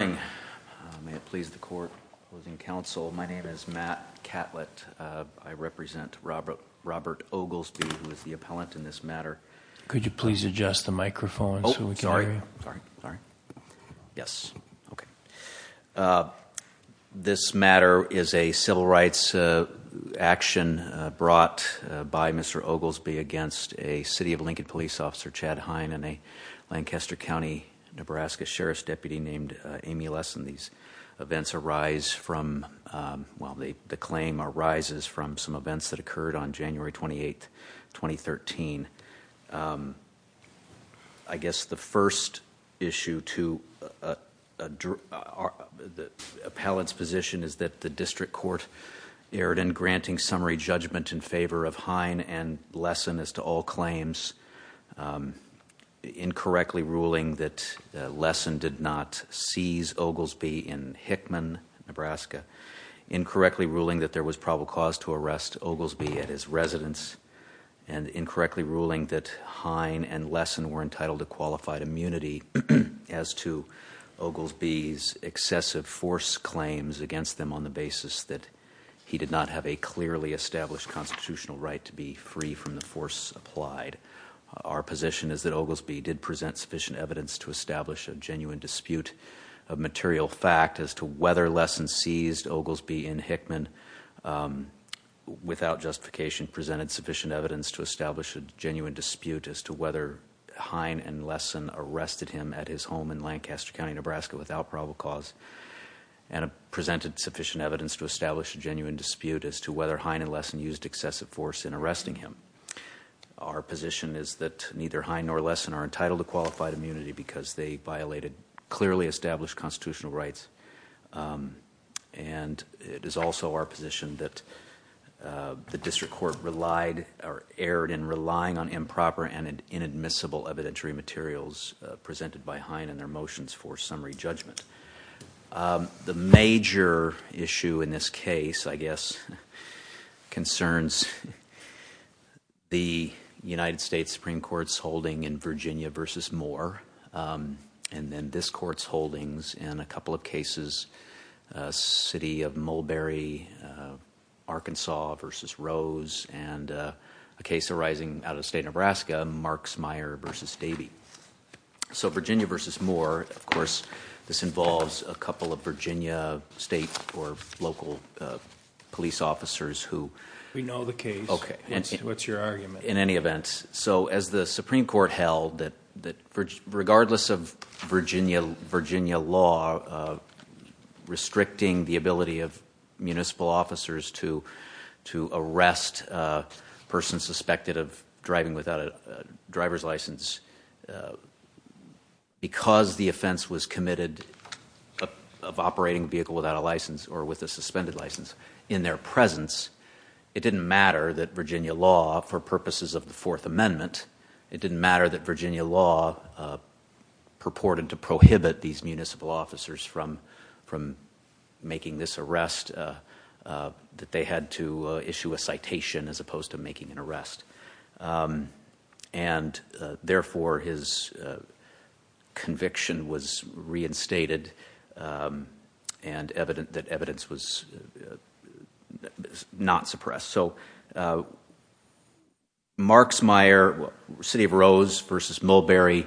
May it please the court. Closing counsel, my name is Matt Catlett. I represent Robert Robert Oglesby, who is the appellant in this matter. Could you please adjust the microphone so we can hear you? Sorry, sorry. Yes, okay. This matter is a civil rights action brought by Mr. Oglesby against a City of Lincoln police officer, Chad Hine, and a Lancaster County, Nebraska Sheriff's Deputy named Amy Lesan. These events arise from, well, the claim arises from some events that occurred on January 28, 2013. I guess the first issue to the appellant's position is that the district court erred in granting summary judgment in favor of Hine and Lesan as to all claims, incorrectly ruling that Lesan did not seize Oglesby in Hickman, Nebraska, incorrectly ruling that there was probable cause to arrest Oglesby at his residence, and incorrectly ruling that Hine and Lesan were entitled to qualified immunity as to Oglesby's excessive force claims against them on the basis that he did not have a clearly established constitutional right to be free from the force applied. Our position is that Oglesby did present sufficient evidence to establish a genuine dispute of material fact as to whether Lesan seized Oglesby in Hickman without justification, presented sufficient evidence to establish a genuine dispute as to whether Hine and Lesan arrested him at his home in Lancaster County, Nebraska, without probable cause, and presented sufficient evidence to establish a genuine dispute as to whether Hine and Lesan used excessive force in arresting him. Our position is that neither Hine nor Lesan are clearly established constitutional rights, and it is also our position that the district court erred in relying on improper and inadmissible evidentiary materials presented by Hine in their motions for summary judgment. The major issue in this case, I guess, concerns the United States Supreme Court's holding in Virginia v. Moore, and then this court's holdings in a couple of cases, City of Mulberry, Arkansas v. Rose, and a case arising out of the state of Nebraska, Marksmeyer v. Davey. Virginia v. Moore, of course, this involves a couple of Virginia state or local police officers who... We know the case. What's your argument? In any event, as the Supreme Court held that regardless of Virginia law restricting the ability of municipal officers to arrest a person suspected of driving without a driver's license, because the offense was committed of operating a vehicle without a license or with a suspended license in their presence, it didn't matter that Virginia law, for purposes of the Fourth Amendment, it didn't matter that Virginia law purported to prohibit these municipal officers from making this arrest, that they had to issue a citation as opposed to making an arrest. Therefore, his conviction was not suppressed. Marksmeyer, City of Rose v. Mulberry,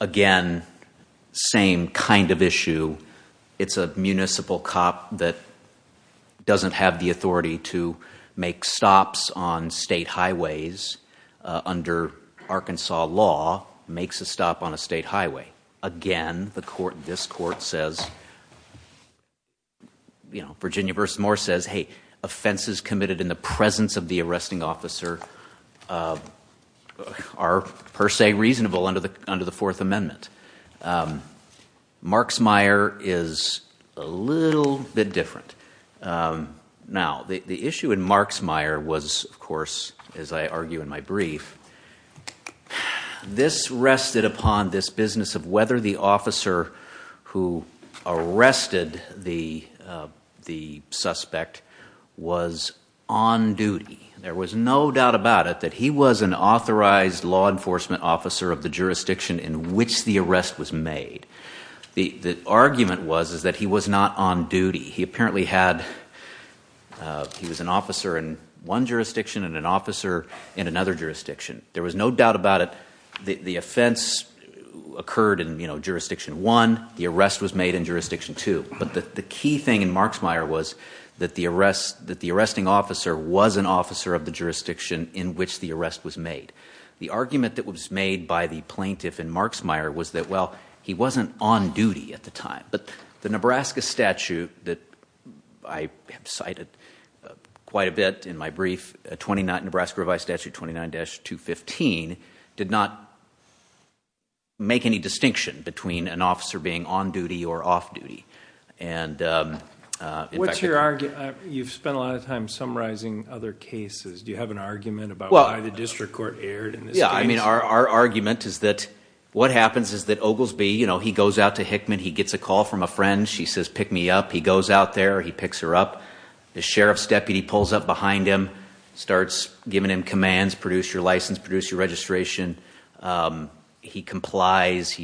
again, same kind of issue. It's a municipal cop that doesn't have the authority to make stops on state highways under Arkansas law, makes a stop on a state highway. Again, this court says, Virginia v. Moore says, hey, offenses committed in the presence of the arresting officer are per se reasonable under the Fourth Amendment. Marksmeyer is a little bit different. Now, the issue in Marksmeyer was, of course, as I argue in my brief, this rested upon this business of whether the officer who arrested the the suspect was on duty. There was no doubt about it that he was an authorized law enforcement officer of the jurisdiction in which the arrest was made. The argument was is that he was not on duty. He apparently had, he was an officer in one jurisdiction and an officer in another jurisdiction. There was no doubt about it. The offense occurred in jurisdiction one, the arrest was made in jurisdiction two, but the key thing in Marksmeyer was that the arrest, that the arresting officer was an officer of the jurisdiction in which the arrest was made. The argument that was made by the plaintiff in Marksmeyer was that, well, he wasn't on duty at the time, but the Nebraska statute that I have cited quite a bit in my brief, Nebraska revised statute 29-215, did not make any distinction between an officer being on duty or off duty. What's your argument? You've spent a lot of time summarizing other cases. Do you have an argument about why the district court erred? Yeah, I mean, our argument is that what happens is that Oglesby, you know, he goes out to Hickman. He gets a call from a friend. She says, pick me up. He goes out there. He picks her up. The sheriff's deputy pulls up behind him. Starts giving him commands. Produce your license. Produce your registration. He complies,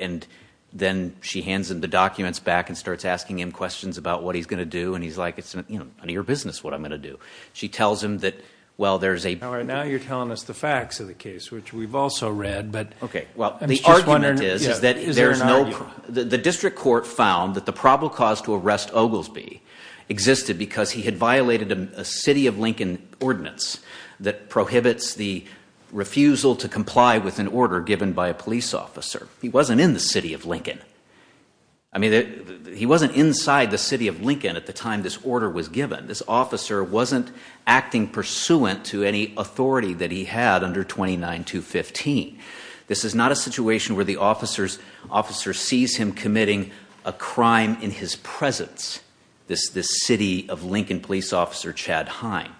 and then she hands him the documents back and starts asking him questions about what he's going to do, and he's like, it's none of your business what I'm going to do. She tells him that, well, there's a... All right, now you're telling us the facts of the case, which we've also read, but... Okay, well, the argument is that there's no... The district court found that the probable cause to arrest Oglesby existed because he had violated a City of Lincoln ordinance that prohibits the refusal to comply with an order given by a police officer. He wasn't in the City of Lincoln. I mean, he wasn't inside the City of Lincoln at the time this order was given. This officer wasn't acting pursuant to any authority that he had under 29215. This is not a situation where the officer sees him committing a crime in his presence, this City of Lincoln police officer, Chad Hine.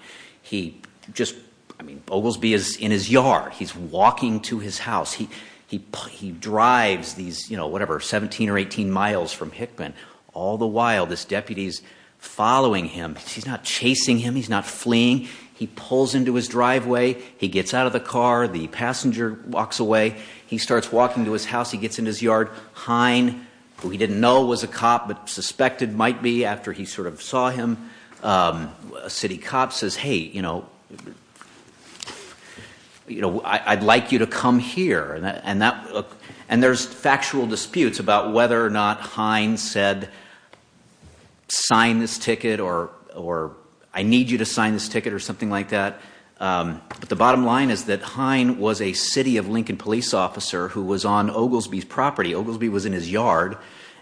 He just... I mean, Oglesby is in his yard. He's walking to his house. He drives these, you know, whatever, 17 or 18 miles from Hickman. All the while, this deputy's following him. He's not chasing him. He's not fleeing. He pulls into his driveway. He gets out of the car. The passenger walks away. He starts walking to his house. He gets in his yard. Hine, who he didn't know was a cop but suspected might be after he sort of saw him, a city cop, says, hey, you know, you know, I'd like you to come here. And that, and there's factual disputes about whether or not Hine said, sign this ticket, or I need you to sign this ticket, or something like that. But the bottom line is that a City of Lincoln police officer who was on Oglesby's property, Oglesby was in his yard,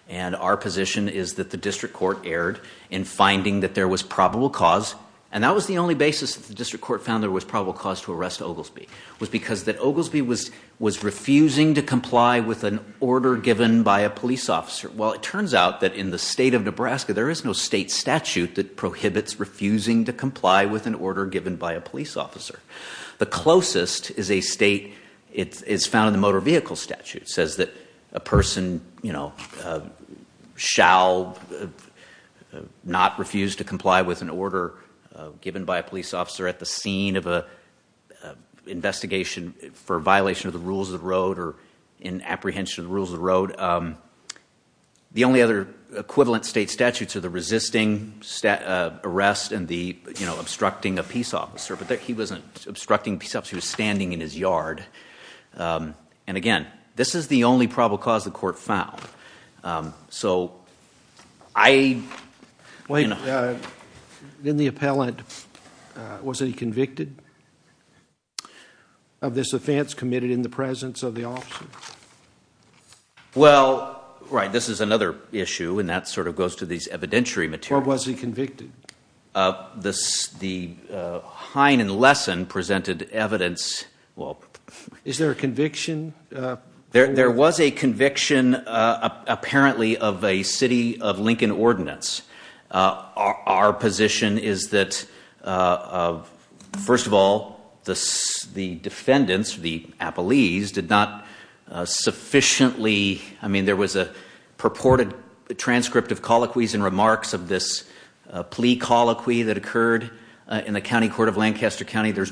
and our position is that the district court erred in finding that there was probable cause, and that was the only basis that the district court found there was probable cause to arrest Oglesby, was because that Oglesby was was refusing to comply with an order given by a police officer. Well, it turns out that in the state of Nebraska, there is no state statute that prohibits refusing to comply with an order given by a police officer. The closest is a state, it's found in the motor vehicle statute, says that a person, you know, shall not refuse to comply with an order given by a police officer at the scene of a investigation for violation of the rules of the road, or in apprehension of the rules of the road. The only other equivalent state statutes are the resisting arrest, and the, you know, obstructing a peace officer, but that he wasn't obstructing peace officer, he was standing in his yard, and again, this is the only probable cause the court found. So, I... Wait, in the appellant, was he convicted of this offense committed in the presence of the officer? Well, right, this is another issue, and that sort of goes to these evidentiary materials. Or was he presented evidence, well... Is there a conviction? There was a conviction, apparently, of a City of Lincoln ordinance. Our position is that, first of all, the defendants, the appellees, did not sufficiently, I mean, there was a purported transcript of colloquies and remarks of this plea colloquy that the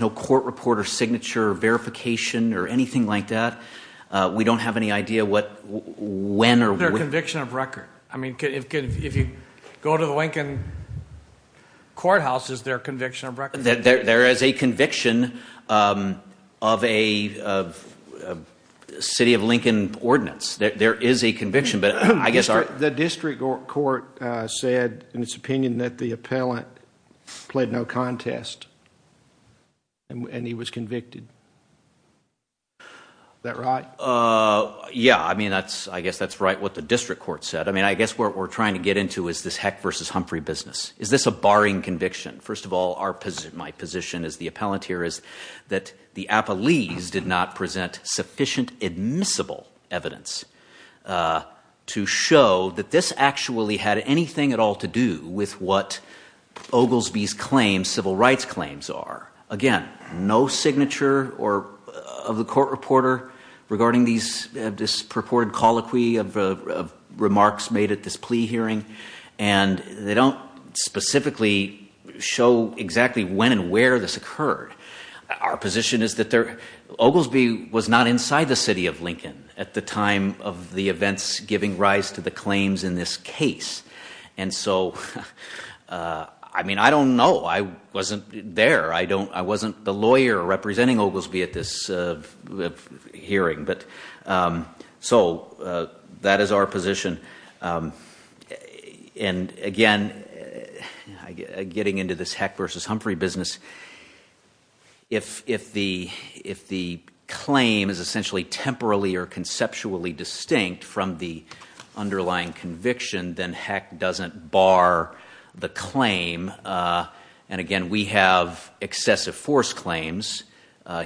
court reported signature verification or anything like that. We don't have any idea what, when, or... Is there a conviction of record? I mean, if you go to the Lincoln courthouse, is there a conviction of record? There is a conviction of a City of Lincoln ordinance. There is a conviction, but I guess... The district court said, in its opinion, that the appellant played no contest, and he was convicted. Is that right? Yeah, I mean, that's, I guess, that's right what the district court said. I mean, I guess what we're trying to get into is this Heck versus Humphrey business. Is this a barring conviction? First of all, our position, my position as the appellant here, is that the appellees did not actually had anything at all to do with what Oglesby's claims, civil rights claims, are. Again, no signature of the court reporter regarding this purported colloquy of remarks made at this plea hearing, and they don't specifically show exactly when and where this occurred. Our position is that Oglesby was not inside the City of Lincoln at the time of the events giving rise to the claims in this case, and so, I mean, I don't know. I wasn't there. I don't, I wasn't the lawyer representing Oglesby at this hearing, but so that is our position, and again, getting into this Heck versus Humphrey business, if the claim is essentially temporally or conceptually distinct from the underlying conviction, then Heck doesn't bar the claim, and again, we have excessive force claims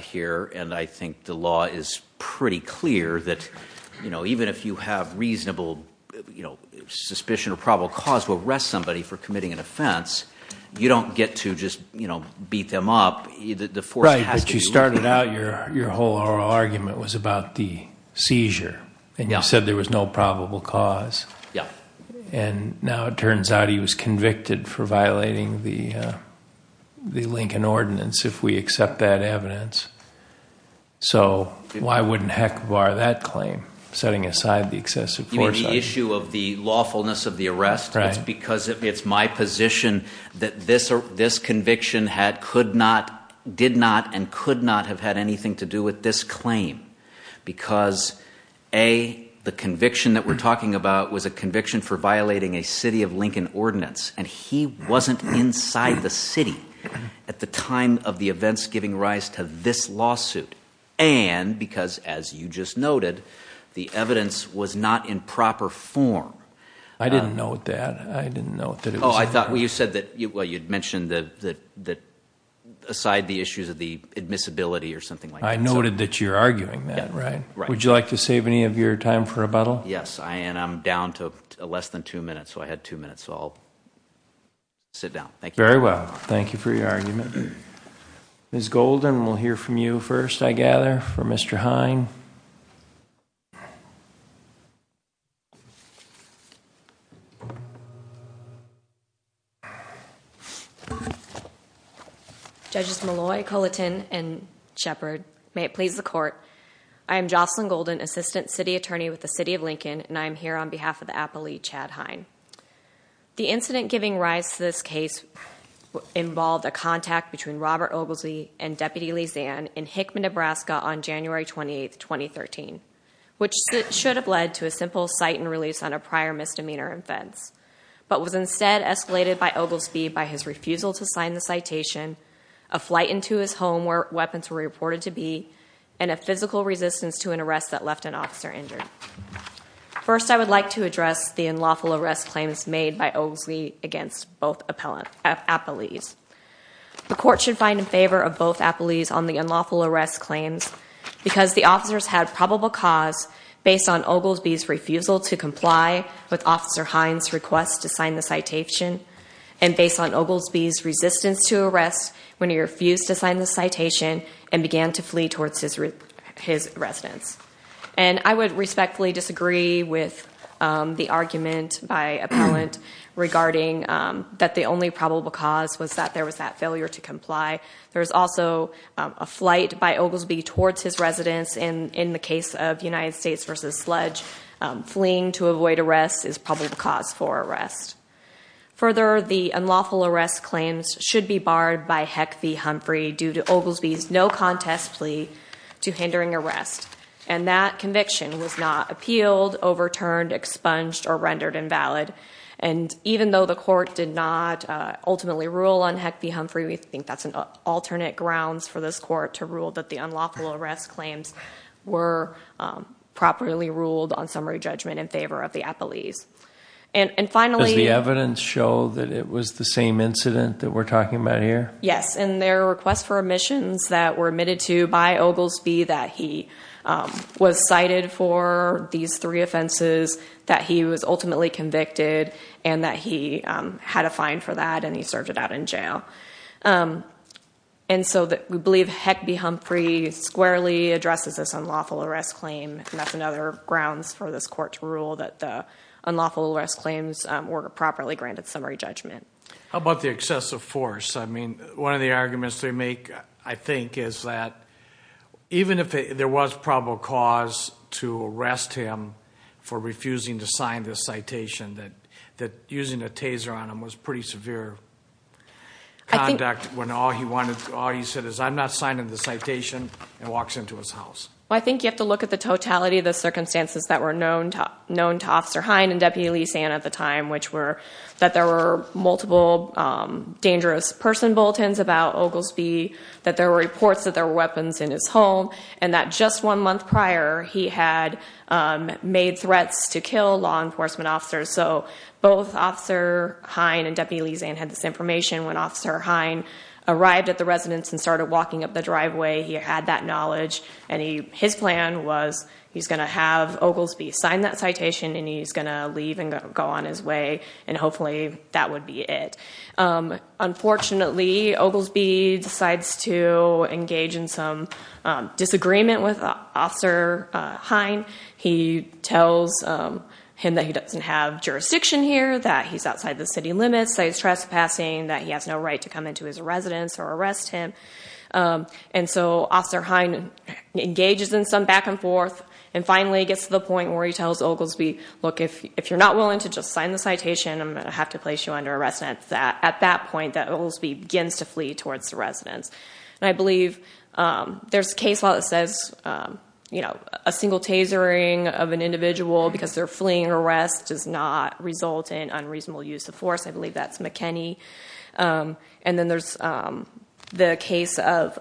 here, and I think the law is pretty clear that, you know, even if you have reasonable, you know, suspicion or probable cause to arrest somebody for committing an offense, you don't get to just, you know, beat them up. Right, but you started out your whole argument was about the seizure, and you said there was no probable cause. Yeah. And now it turns out he was convicted for violating the Lincoln Ordinance, if we accept that evidence, so why wouldn't Heck bar that claim, setting aside the excessive force? You mean the issue of the lawfulness of the arrest? Right. It's because it's my position that this conviction had, could not, did not, and could not have had anything to do with this claim, because A, the conviction that we're talking about was a conviction for violating a City of Lincoln Ordinance, and he wasn't inside the city at the time of the events giving rise to this lawsuit, and because, as you just noted, the evidence was not in proper form. I didn't note that. I didn't know that. Oh, I thought, well, you said that, well, you'd mentioned that aside the issues of the admissibility or something like that. I noted that you're arguing that, right? Would you like to save any of your time for rebuttal? Yes, and I'm down to less than two minutes, so I had two minutes, so I'll sit down. Thank you. Very well, thank you for your argument. Ms. Golden, we'll hear from you first, I gather, for Mr. Hine. Judges Malloy, Culliton, and Shepard, may it please the court, I am Jocelyn Golden, Assistant City Attorney with the City of Lincoln, and I am here on behalf of the Appellee, Chad Hine. The incident giving rise to this case involved a contact between Robert Oglesby and Deputy Lee Zan in Hickman, Nebraska, on January 28th, 2013, which should have led to a simple cite and release on a prior misdemeanor offense, but was instead escalated by Oglesby by his refusal to sign the citation, a flight into his home where weapons were reported to be, and a physical resistance to an arrest that left an officer injured. First, I would like to address the unlawful arrest claims made by Oglesby against both appellees. The court should find in favor of both appellees on the unlawful arrest claims because the officers had probable cause based on Oglesby's refusal to comply with Officer Hine's request to sign the citation, and based on Oglesby's resistance to arrest when he refused to sign the citation and began to flee towards his residence. And I would respectfully disagree with the argument by appellant regarding that the only probable cause was that there was that failure to comply. There was also a flight by Oglesby towards his residence, and in the case of United States vs. Sledge, fleeing to avoid arrest is probably the cause for arrest. Further, the unlawful arrest claims should be barred by Heck v. Humphrey due to Oglesby's no contest plea to hindering arrest, and that conviction was not appealed, overturned, expunged, or rendered invalid. And even though the court did not ultimately rule on Heck v. Humphrey, we think that's an alternate grounds for this court to rule that the unlawful arrest claims were properly ruled on summary judgment in favor of the appellees. And finally... Does the evidence show that it was the same incident that we're talking about here? Yes, and there are requests for omissions that were admitted to by Oglesby that he was cited for these three offenses, that he was ultimately convicted, and that he had a fine for that, and he served it out in jail. And so we believe Heck v. Humphrey squarely addresses this unlawful arrest claim, and that's another grounds for this court to rule that the unlawful arrest claims were properly granted summary judgment. How about the excessive force? I mean, one of the arguments they make, I think, is that even if there was probable cause to arrest him for refusing to sign this severe conduct, when all he said is, I'm not signing the citation, and walks into his house. Well, I think you have to look at the totality of the circumstances that were known to Officer Hine and Deputy Lee Sand at the time, which were that there were multiple dangerous person bulletins about Oglesby, that there were reports that there were weapons in his home, and that just one month prior, he had made threats to kill law enforcement officers. So both Officer Hine and Deputy Lee Sand had this information when Officer Hine arrived at the residence and started walking up the driveway. He had that knowledge, and his plan was he's going to have Oglesby sign that citation, and he's going to leave and go on his way, and hopefully that would be it. Unfortunately, Oglesby decides to engage in some disagreement with Officer Hine. He tells him that he doesn't have jurisdiction here, that he's outside the city limits, that he's trespassing, that he has no right to come into his residence or arrest him, and so Officer Hine engages in some back-and-forth, and finally gets to the point where he tells Oglesby, look, if you're not willing to just sign the citation, I'm gonna have to place you under arrest. At that point, Oglesby begins to flee towards the residence, and I believe there's a case law that says, you know, a single tasering of an individual because they're fleeing arrest does not result in unreasonable use of force. I believe that's McKinney, and then there's the case of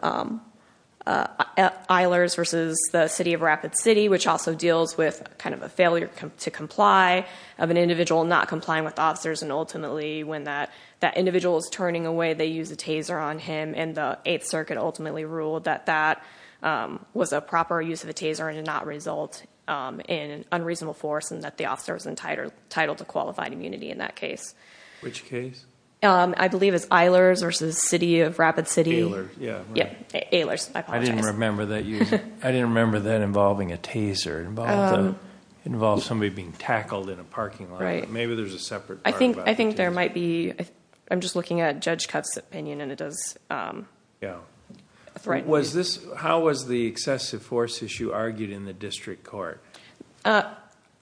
Eilers versus the city of Rapid City, which also deals with kind of a failure to comply of an individual not complying with officers, and ultimately when that that individual is turning away, they use a taser on him, and the Eighth Circuit ultimately ruled that that was a proper use of a taser, and did not result in unreasonable force, and that the officer was entitled to qualified immunity in that case. Which case? I believe it's Eilers versus the city of Rapid City. Eilers, yeah. Yeah, Eilers. I didn't remember that. I didn't remember that involving a taser. It involves somebody being tackled in a parking lot. Right. Maybe there's a separate part. I think, I think there might be, I'm just looking at Judge Cutts opinion, and it does. Yeah. Was this, how was the excessive force issue argued in the district court?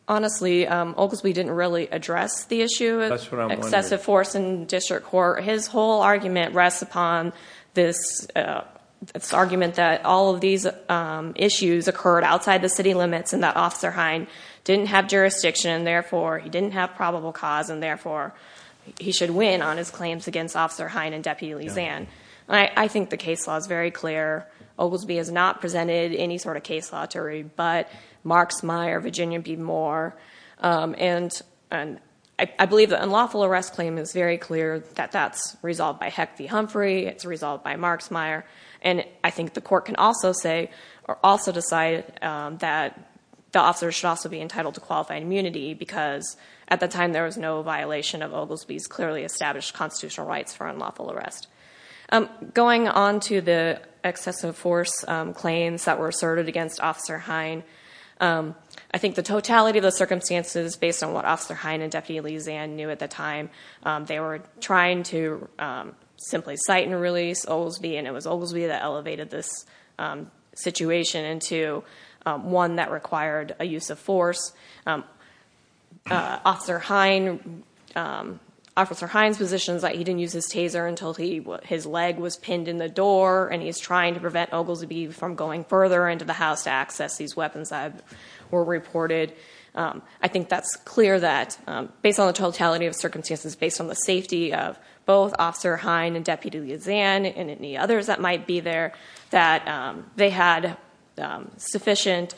Honestly, Oglesby didn't really address the issue of excessive force in district court. His whole argument rests upon this, this argument that all of these issues occurred outside the city limits, and that Officer Hine didn't have jurisdiction, and therefore he didn't have probable cause, and therefore he should win on his claims against Officer Hine and Deputy Lisan. I think the case law is very clear. Oglesby has not presented any sort of case law to rebut Marks, Meyer, Virginia B. Moore, and, and I believe the unlawful arrest claim is very clear that that's resolved by Heck v. Humphrey. It's resolved by Marks, Meyer, and I think the court can also say, or also decide that the officer should also be entitled to qualified immunity, because at the time there was no violation of Oglesby's clearly established constitutional rights for unlawful arrest. Going on to the excessive force claims that were asserted against Officer Hine, I think the totality of the circumstances, based on what Officer Hine and Deputy Lisan knew at the time, they were trying to simply cite and release Oglesby, and it was Oglesby that elevated this situation into one that required a use of force. Officer Hine, Officer Hine's position is that he didn't use his taser until he, his leg was pinned in the door, and he's trying to prevent Oglesby from going further into the house to access these weapons that were reported. I think that's clear that, based on the totality of circumstances, based on the safety of both Officer Hine and Deputy Lisan, and any others that might be there, that they had sufficient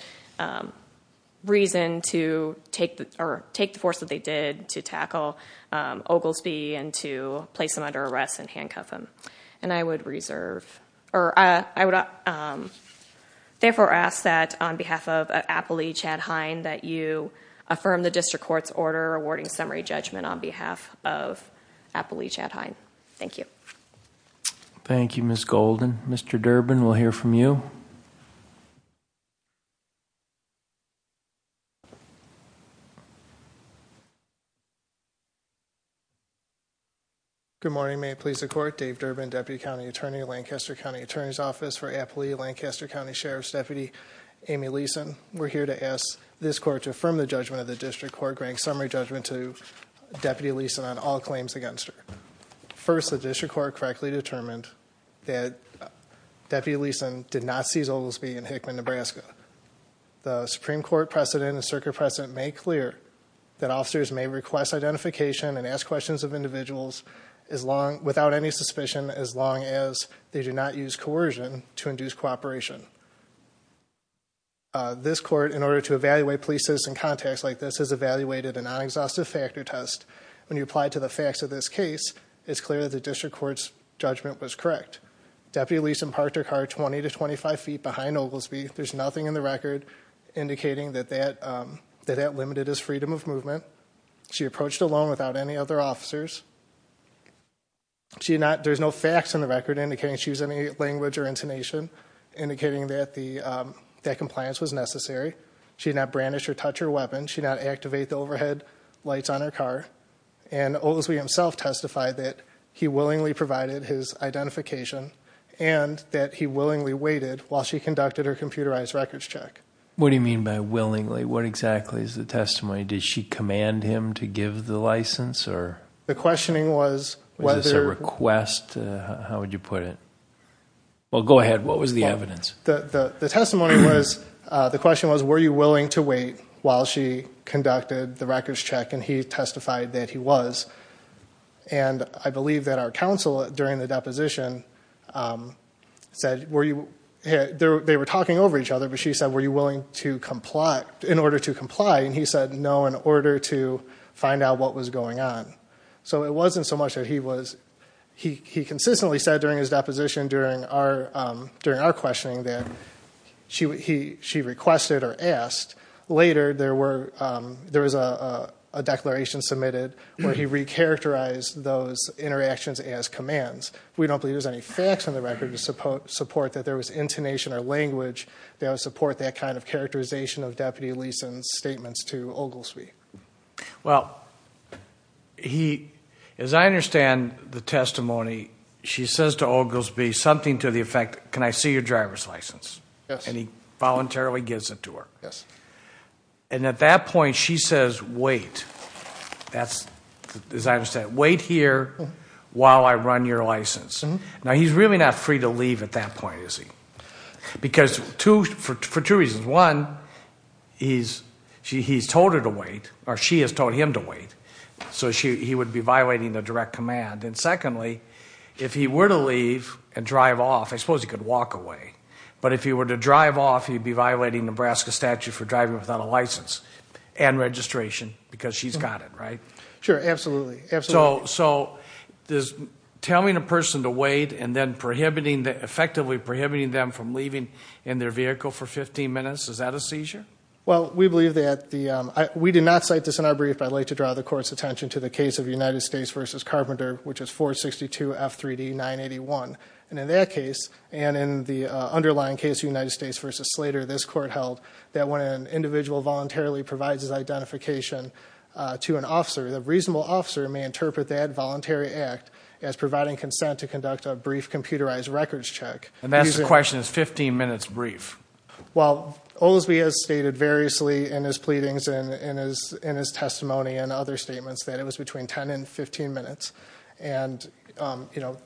reason to take, or take the force that they did to tackle Oglesby and to place him under arrest and handcuff him. And I would reserve, or I would therefore ask that, on behalf of Appley Chad Hine, that you affirm the district court's order awarding summary judgment on behalf of Appley Chad Hine. Thank you. Thank you, Ms. Golden. Mr. Durbin, we'll hear from you. Good morning. May it please the court, Dave Durbin, Deputy County Attorney, Lancaster County Attorney's Office for Appley, Lancaster County Sheriff's Deputy, Amy Lisan. We're here to ask this court to affirm the judgment of the district court granting summary judgment to Deputy Lisan on all claims against her. First, the district court correctly determined that Deputy Lisan did not seize Oglesby in Hickman, Nebraska. The Supreme Court precedent and circuit precedent made clear that officers may request identification and ask questions of individuals without any suspicion as long as they do not use coercion to induce cooperation. This court, in order to evaluate police citizen contacts like this, has evaluated a non-exhaustive factor test. When you apply to the facts of this case, it's clear that the district court's judgment was correct. Deputy Lisan parked her car 20 to 25 feet behind Oglesby. There's nothing in the record indicating that that limited his freedom of movement. She approached alone without any other officers. There's no facts in the record indicating she used any language or intonation indicating that compliance was necessary. She did not brandish or touch her car and Oglesby himself testified that he willingly provided his identification and that he willingly waited while she conducted her computerized records check. What do you mean by willingly? What exactly is the testimony? Did she command him to give the license? The questioning was whether... Was this a request? How would you put it? Well, go ahead. What was the evidence? The testimony was, the question was, were you willing to comply? She testified that he was. And I believe that our counsel, during the deposition, said, were you... They were talking over each other, but she said, were you willing to comply, in order to comply? And he said, no, in order to find out what was going on. So it wasn't so much that he was... He consistently said during his deposition, during our questioning, that she requested or asked. Later, there was a declaration submitted where he recharacterized those interactions as commands. We don't believe there's any facts on the record to support that there was intonation or language that would support that kind of characterization of Deputy Leeson's statements to Oglesby. Well, he... As I understand the testimony, she says to Oglesby something to the effect, can I see your driver's license? Yes. And he voluntarily gives it to her. Yes. And at that point, she says, wait. That's, as I understand, wait here while I run your license. Now, he's really not free to leave at that point, is he? Because two... For two reasons. One, he's... He's told her to wait, or she has told him to wait. So she... He would be violating the direct command. And secondly, if he were to leave and drive off, I suppose he could walk away. But if he were to drive off, he'd be violating Nebraska statute for driving without a license and registration because she's got it, right? Sure. Absolutely. Absolutely. So... So this... Telling a person to wait and then prohibiting the... Effectively prohibiting them from leaving in their vehicle for 15 minutes, is that a seizure? Well, we believe that the... We did not cite this in our brief. I'd like to draw the court's attention to the case of United States v. Slater, this court held, that when an individual voluntarily provides his identification to an officer, the reasonable officer may interpret that voluntary act as providing consent to conduct a brief computerized records check. And that's the question is 15 minutes brief? Well, Oldsby has stated variously in his pleadings and in his... In his testimony and other statements that it was between 10 and 15 minutes. And, you know,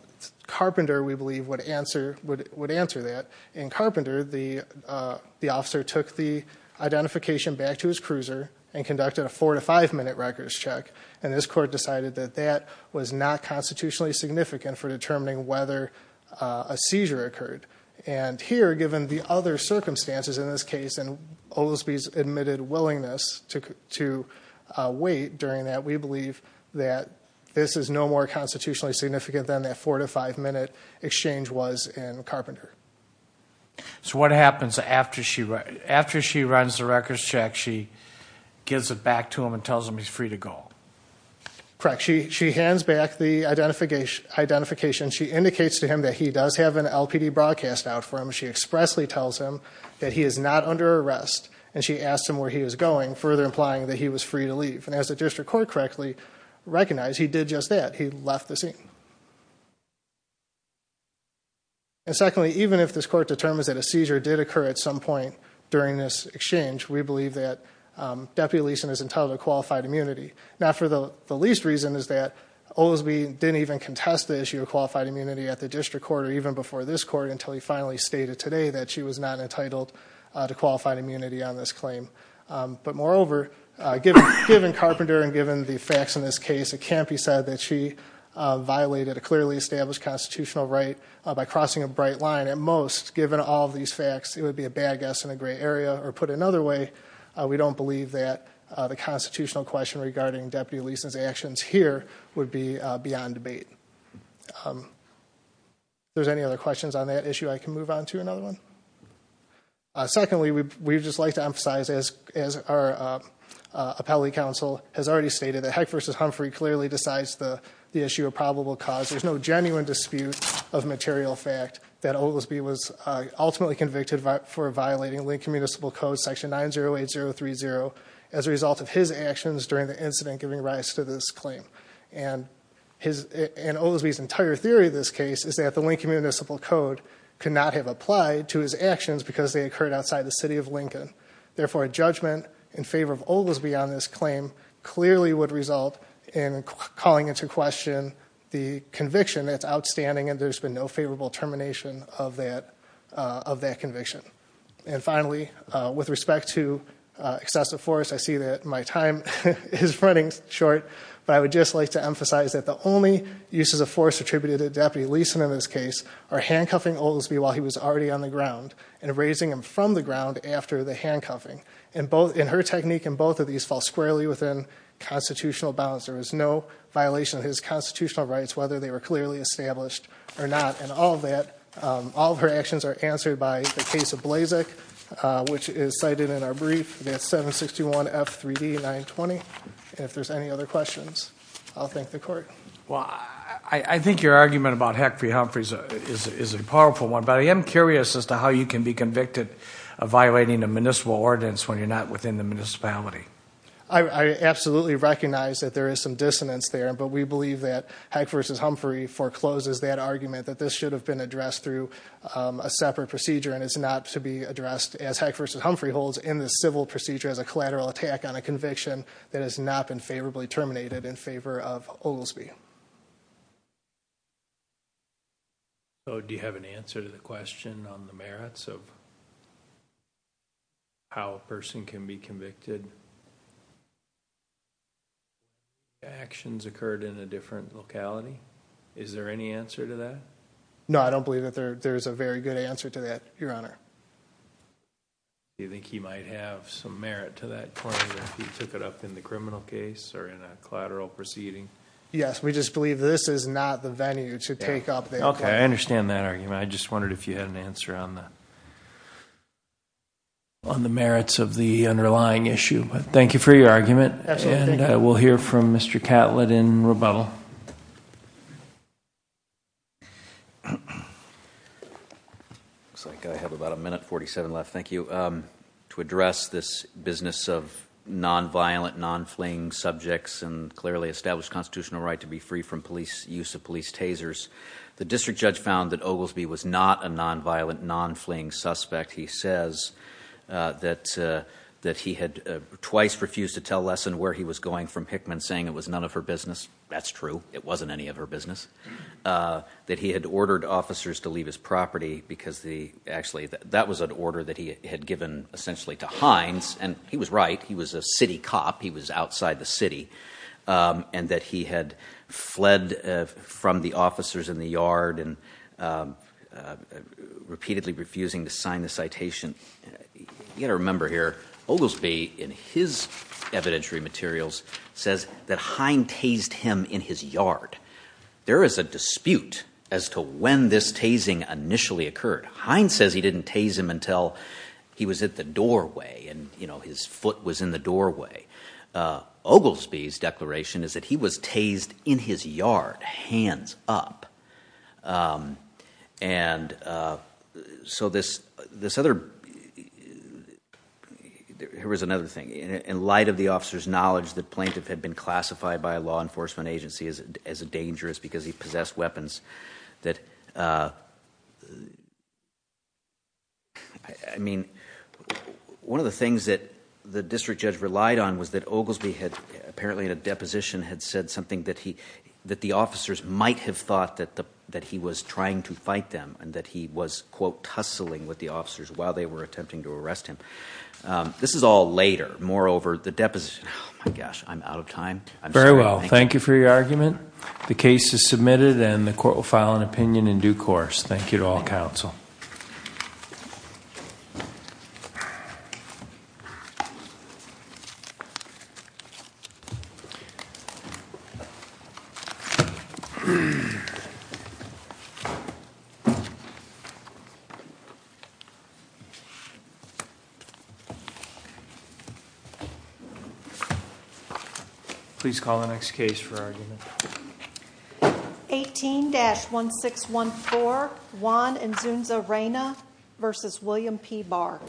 Carpenter, we believe, would answer that. In Carpenter, the officer took the identification back to his cruiser and conducted a four to five minute records check. And this court decided that that was not constitutionally significant for determining whether a seizure occurred. And here, given the other circumstances in this case, and Oldsby's admitted willingness to wait during that, we believe that this is no more constitutionally significant than that four to five minute exchange was in Carpenter. So what happens after she... After she runs the records check, she gives it back to him and tells him he's free to go? Correct. She hands back the identification. She indicates to him that he does have an LPD broadcast out for him. She expressly tells him that he is not under arrest. And she asked him where he was going, further implying that he was free to leave. And as the district court correctly recognized, he did just that. He left the scene. And secondly, even if this court determines that a seizure did occur at some point during this exchange, we believe that Deputy Leeson is entitled to qualified immunity. Now for the least reason is that Oldsby didn't even contest the issue of qualified immunity at the district court or even before this court until he finally stated today that she was not entitled to qualified immunity on this claim. But moreover, given Carpenter and given the facts in this case, it can't be said that she violated a clearly established constitutional right by crossing a bright line. At most, given all of these facts, it would be a bad guess in a gray area. Or put another way, we don't believe that the constitutional question regarding Deputy Leeson's actions here would be beyond debate. If there's any other questions on that issue, I can move on to another one. Secondly, we would just like to emphasize, as our versus Humphrey clearly decides the issue of probable cause, there's no genuine dispute of material fact that Oldsby was ultimately convicted for violating Lincoln Municipal Code section 908030 as a result of his actions during the incident giving rise to this claim. And Oldsby's entire theory of this case is that the Lincoln Municipal Code could not have applied to his actions because they occurred outside the city of Lincoln. Therefore, a in calling into question the conviction that's outstanding and there's been no favorable termination of that conviction. And finally, with respect to excessive force, I see that my time is running short, but I would just like to emphasize that the only uses of force attributed to Deputy Leeson in this case are handcuffing Oldsby while he was already on the ground and raising him from the ground after the handcuffing. And her technique in both of these cases was clearly within constitutional bounds. There was no violation of his constitutional rights, whether they were clearly established or not. And all of her actions are answered by the case of Blazek, which is cited in our brief. That's 761 F 3d 920. And if there's any other questions, I'll thank the court. Well, I think your argument about Hackfrey-Humphrey is a powerful one, but I am curious as to how you can be convicted of violating a municipality. I absolutely recognize that there is some dissonance there, but we believe that Hack versus Humphrey forecloses that argument that this should have been addressed through a separate procedure and it's not to be addressed as Hack versus Humphrey holds in the civil procedure as a collateral attack on a conviction that has not been favorably terminated in favor of Oldsby. So do you have an answer to the question on the merits of how a person can be convicted if their actions occurred in a different locality? Is there any answer to that? No, I don't believe that there's a very good answer to that, Your Honor. Do you think he might have some merit to that point if he took it up in the criminal case or in a collateral proceeding? Yes, we just believe this is not the venue to take up the argument. Okay, I understand that argument. I just wondered if you had an answer on that. Thank you for your argument and I will hear from Mr. Catlett in rebuttal. Looks like I have about a minute 47 left. Thank you. To address this business of non-violent, non-fleeing subjects and clearly established constitutional right to be free from police use of police tasers, the district judge found that twice refused to tell Lesson where he was going from Hickman saying it was none of her business. That's true. It wasn't any of her business. That he had ordered officers to leave his property because the actually that was an order that he had given essentially to Hines and he was right. He was a city cop. He was outside the city and that he had fled from the officers in the yard and you gotta remember here Oglesby in his evidentiary materials says that Hines tased him in his yard. There is a dispute as to when this tasing initially occurred. Hines says he didn't tase him until he was at the doorway and you know his foot was in the doorway. Oglesby's declaration is that he was tased in his yard, hands up. Here was another thing. In light of the officer's knowledge that plaintiff had been classified by a law enforcement agency as a dangerous because he possessed weapons. I mean one of the things that the district judge relied on was that Oglesby had apparently in a deposition had said something that he that the officers might have thought that the that he was trying to fight them and that he was quote tussling with the officers while they were attempting to arrest him. This is all later. Moreover, the deposition, oh my gosh, I'm out of time. Very well. Thank you for your argument. The case is submitted and the court will file an opinion in due course. Thank you to all counsel. Please call the next case for argument. 18-1614 Juan and Zunza Reyna vs. William P. Barr.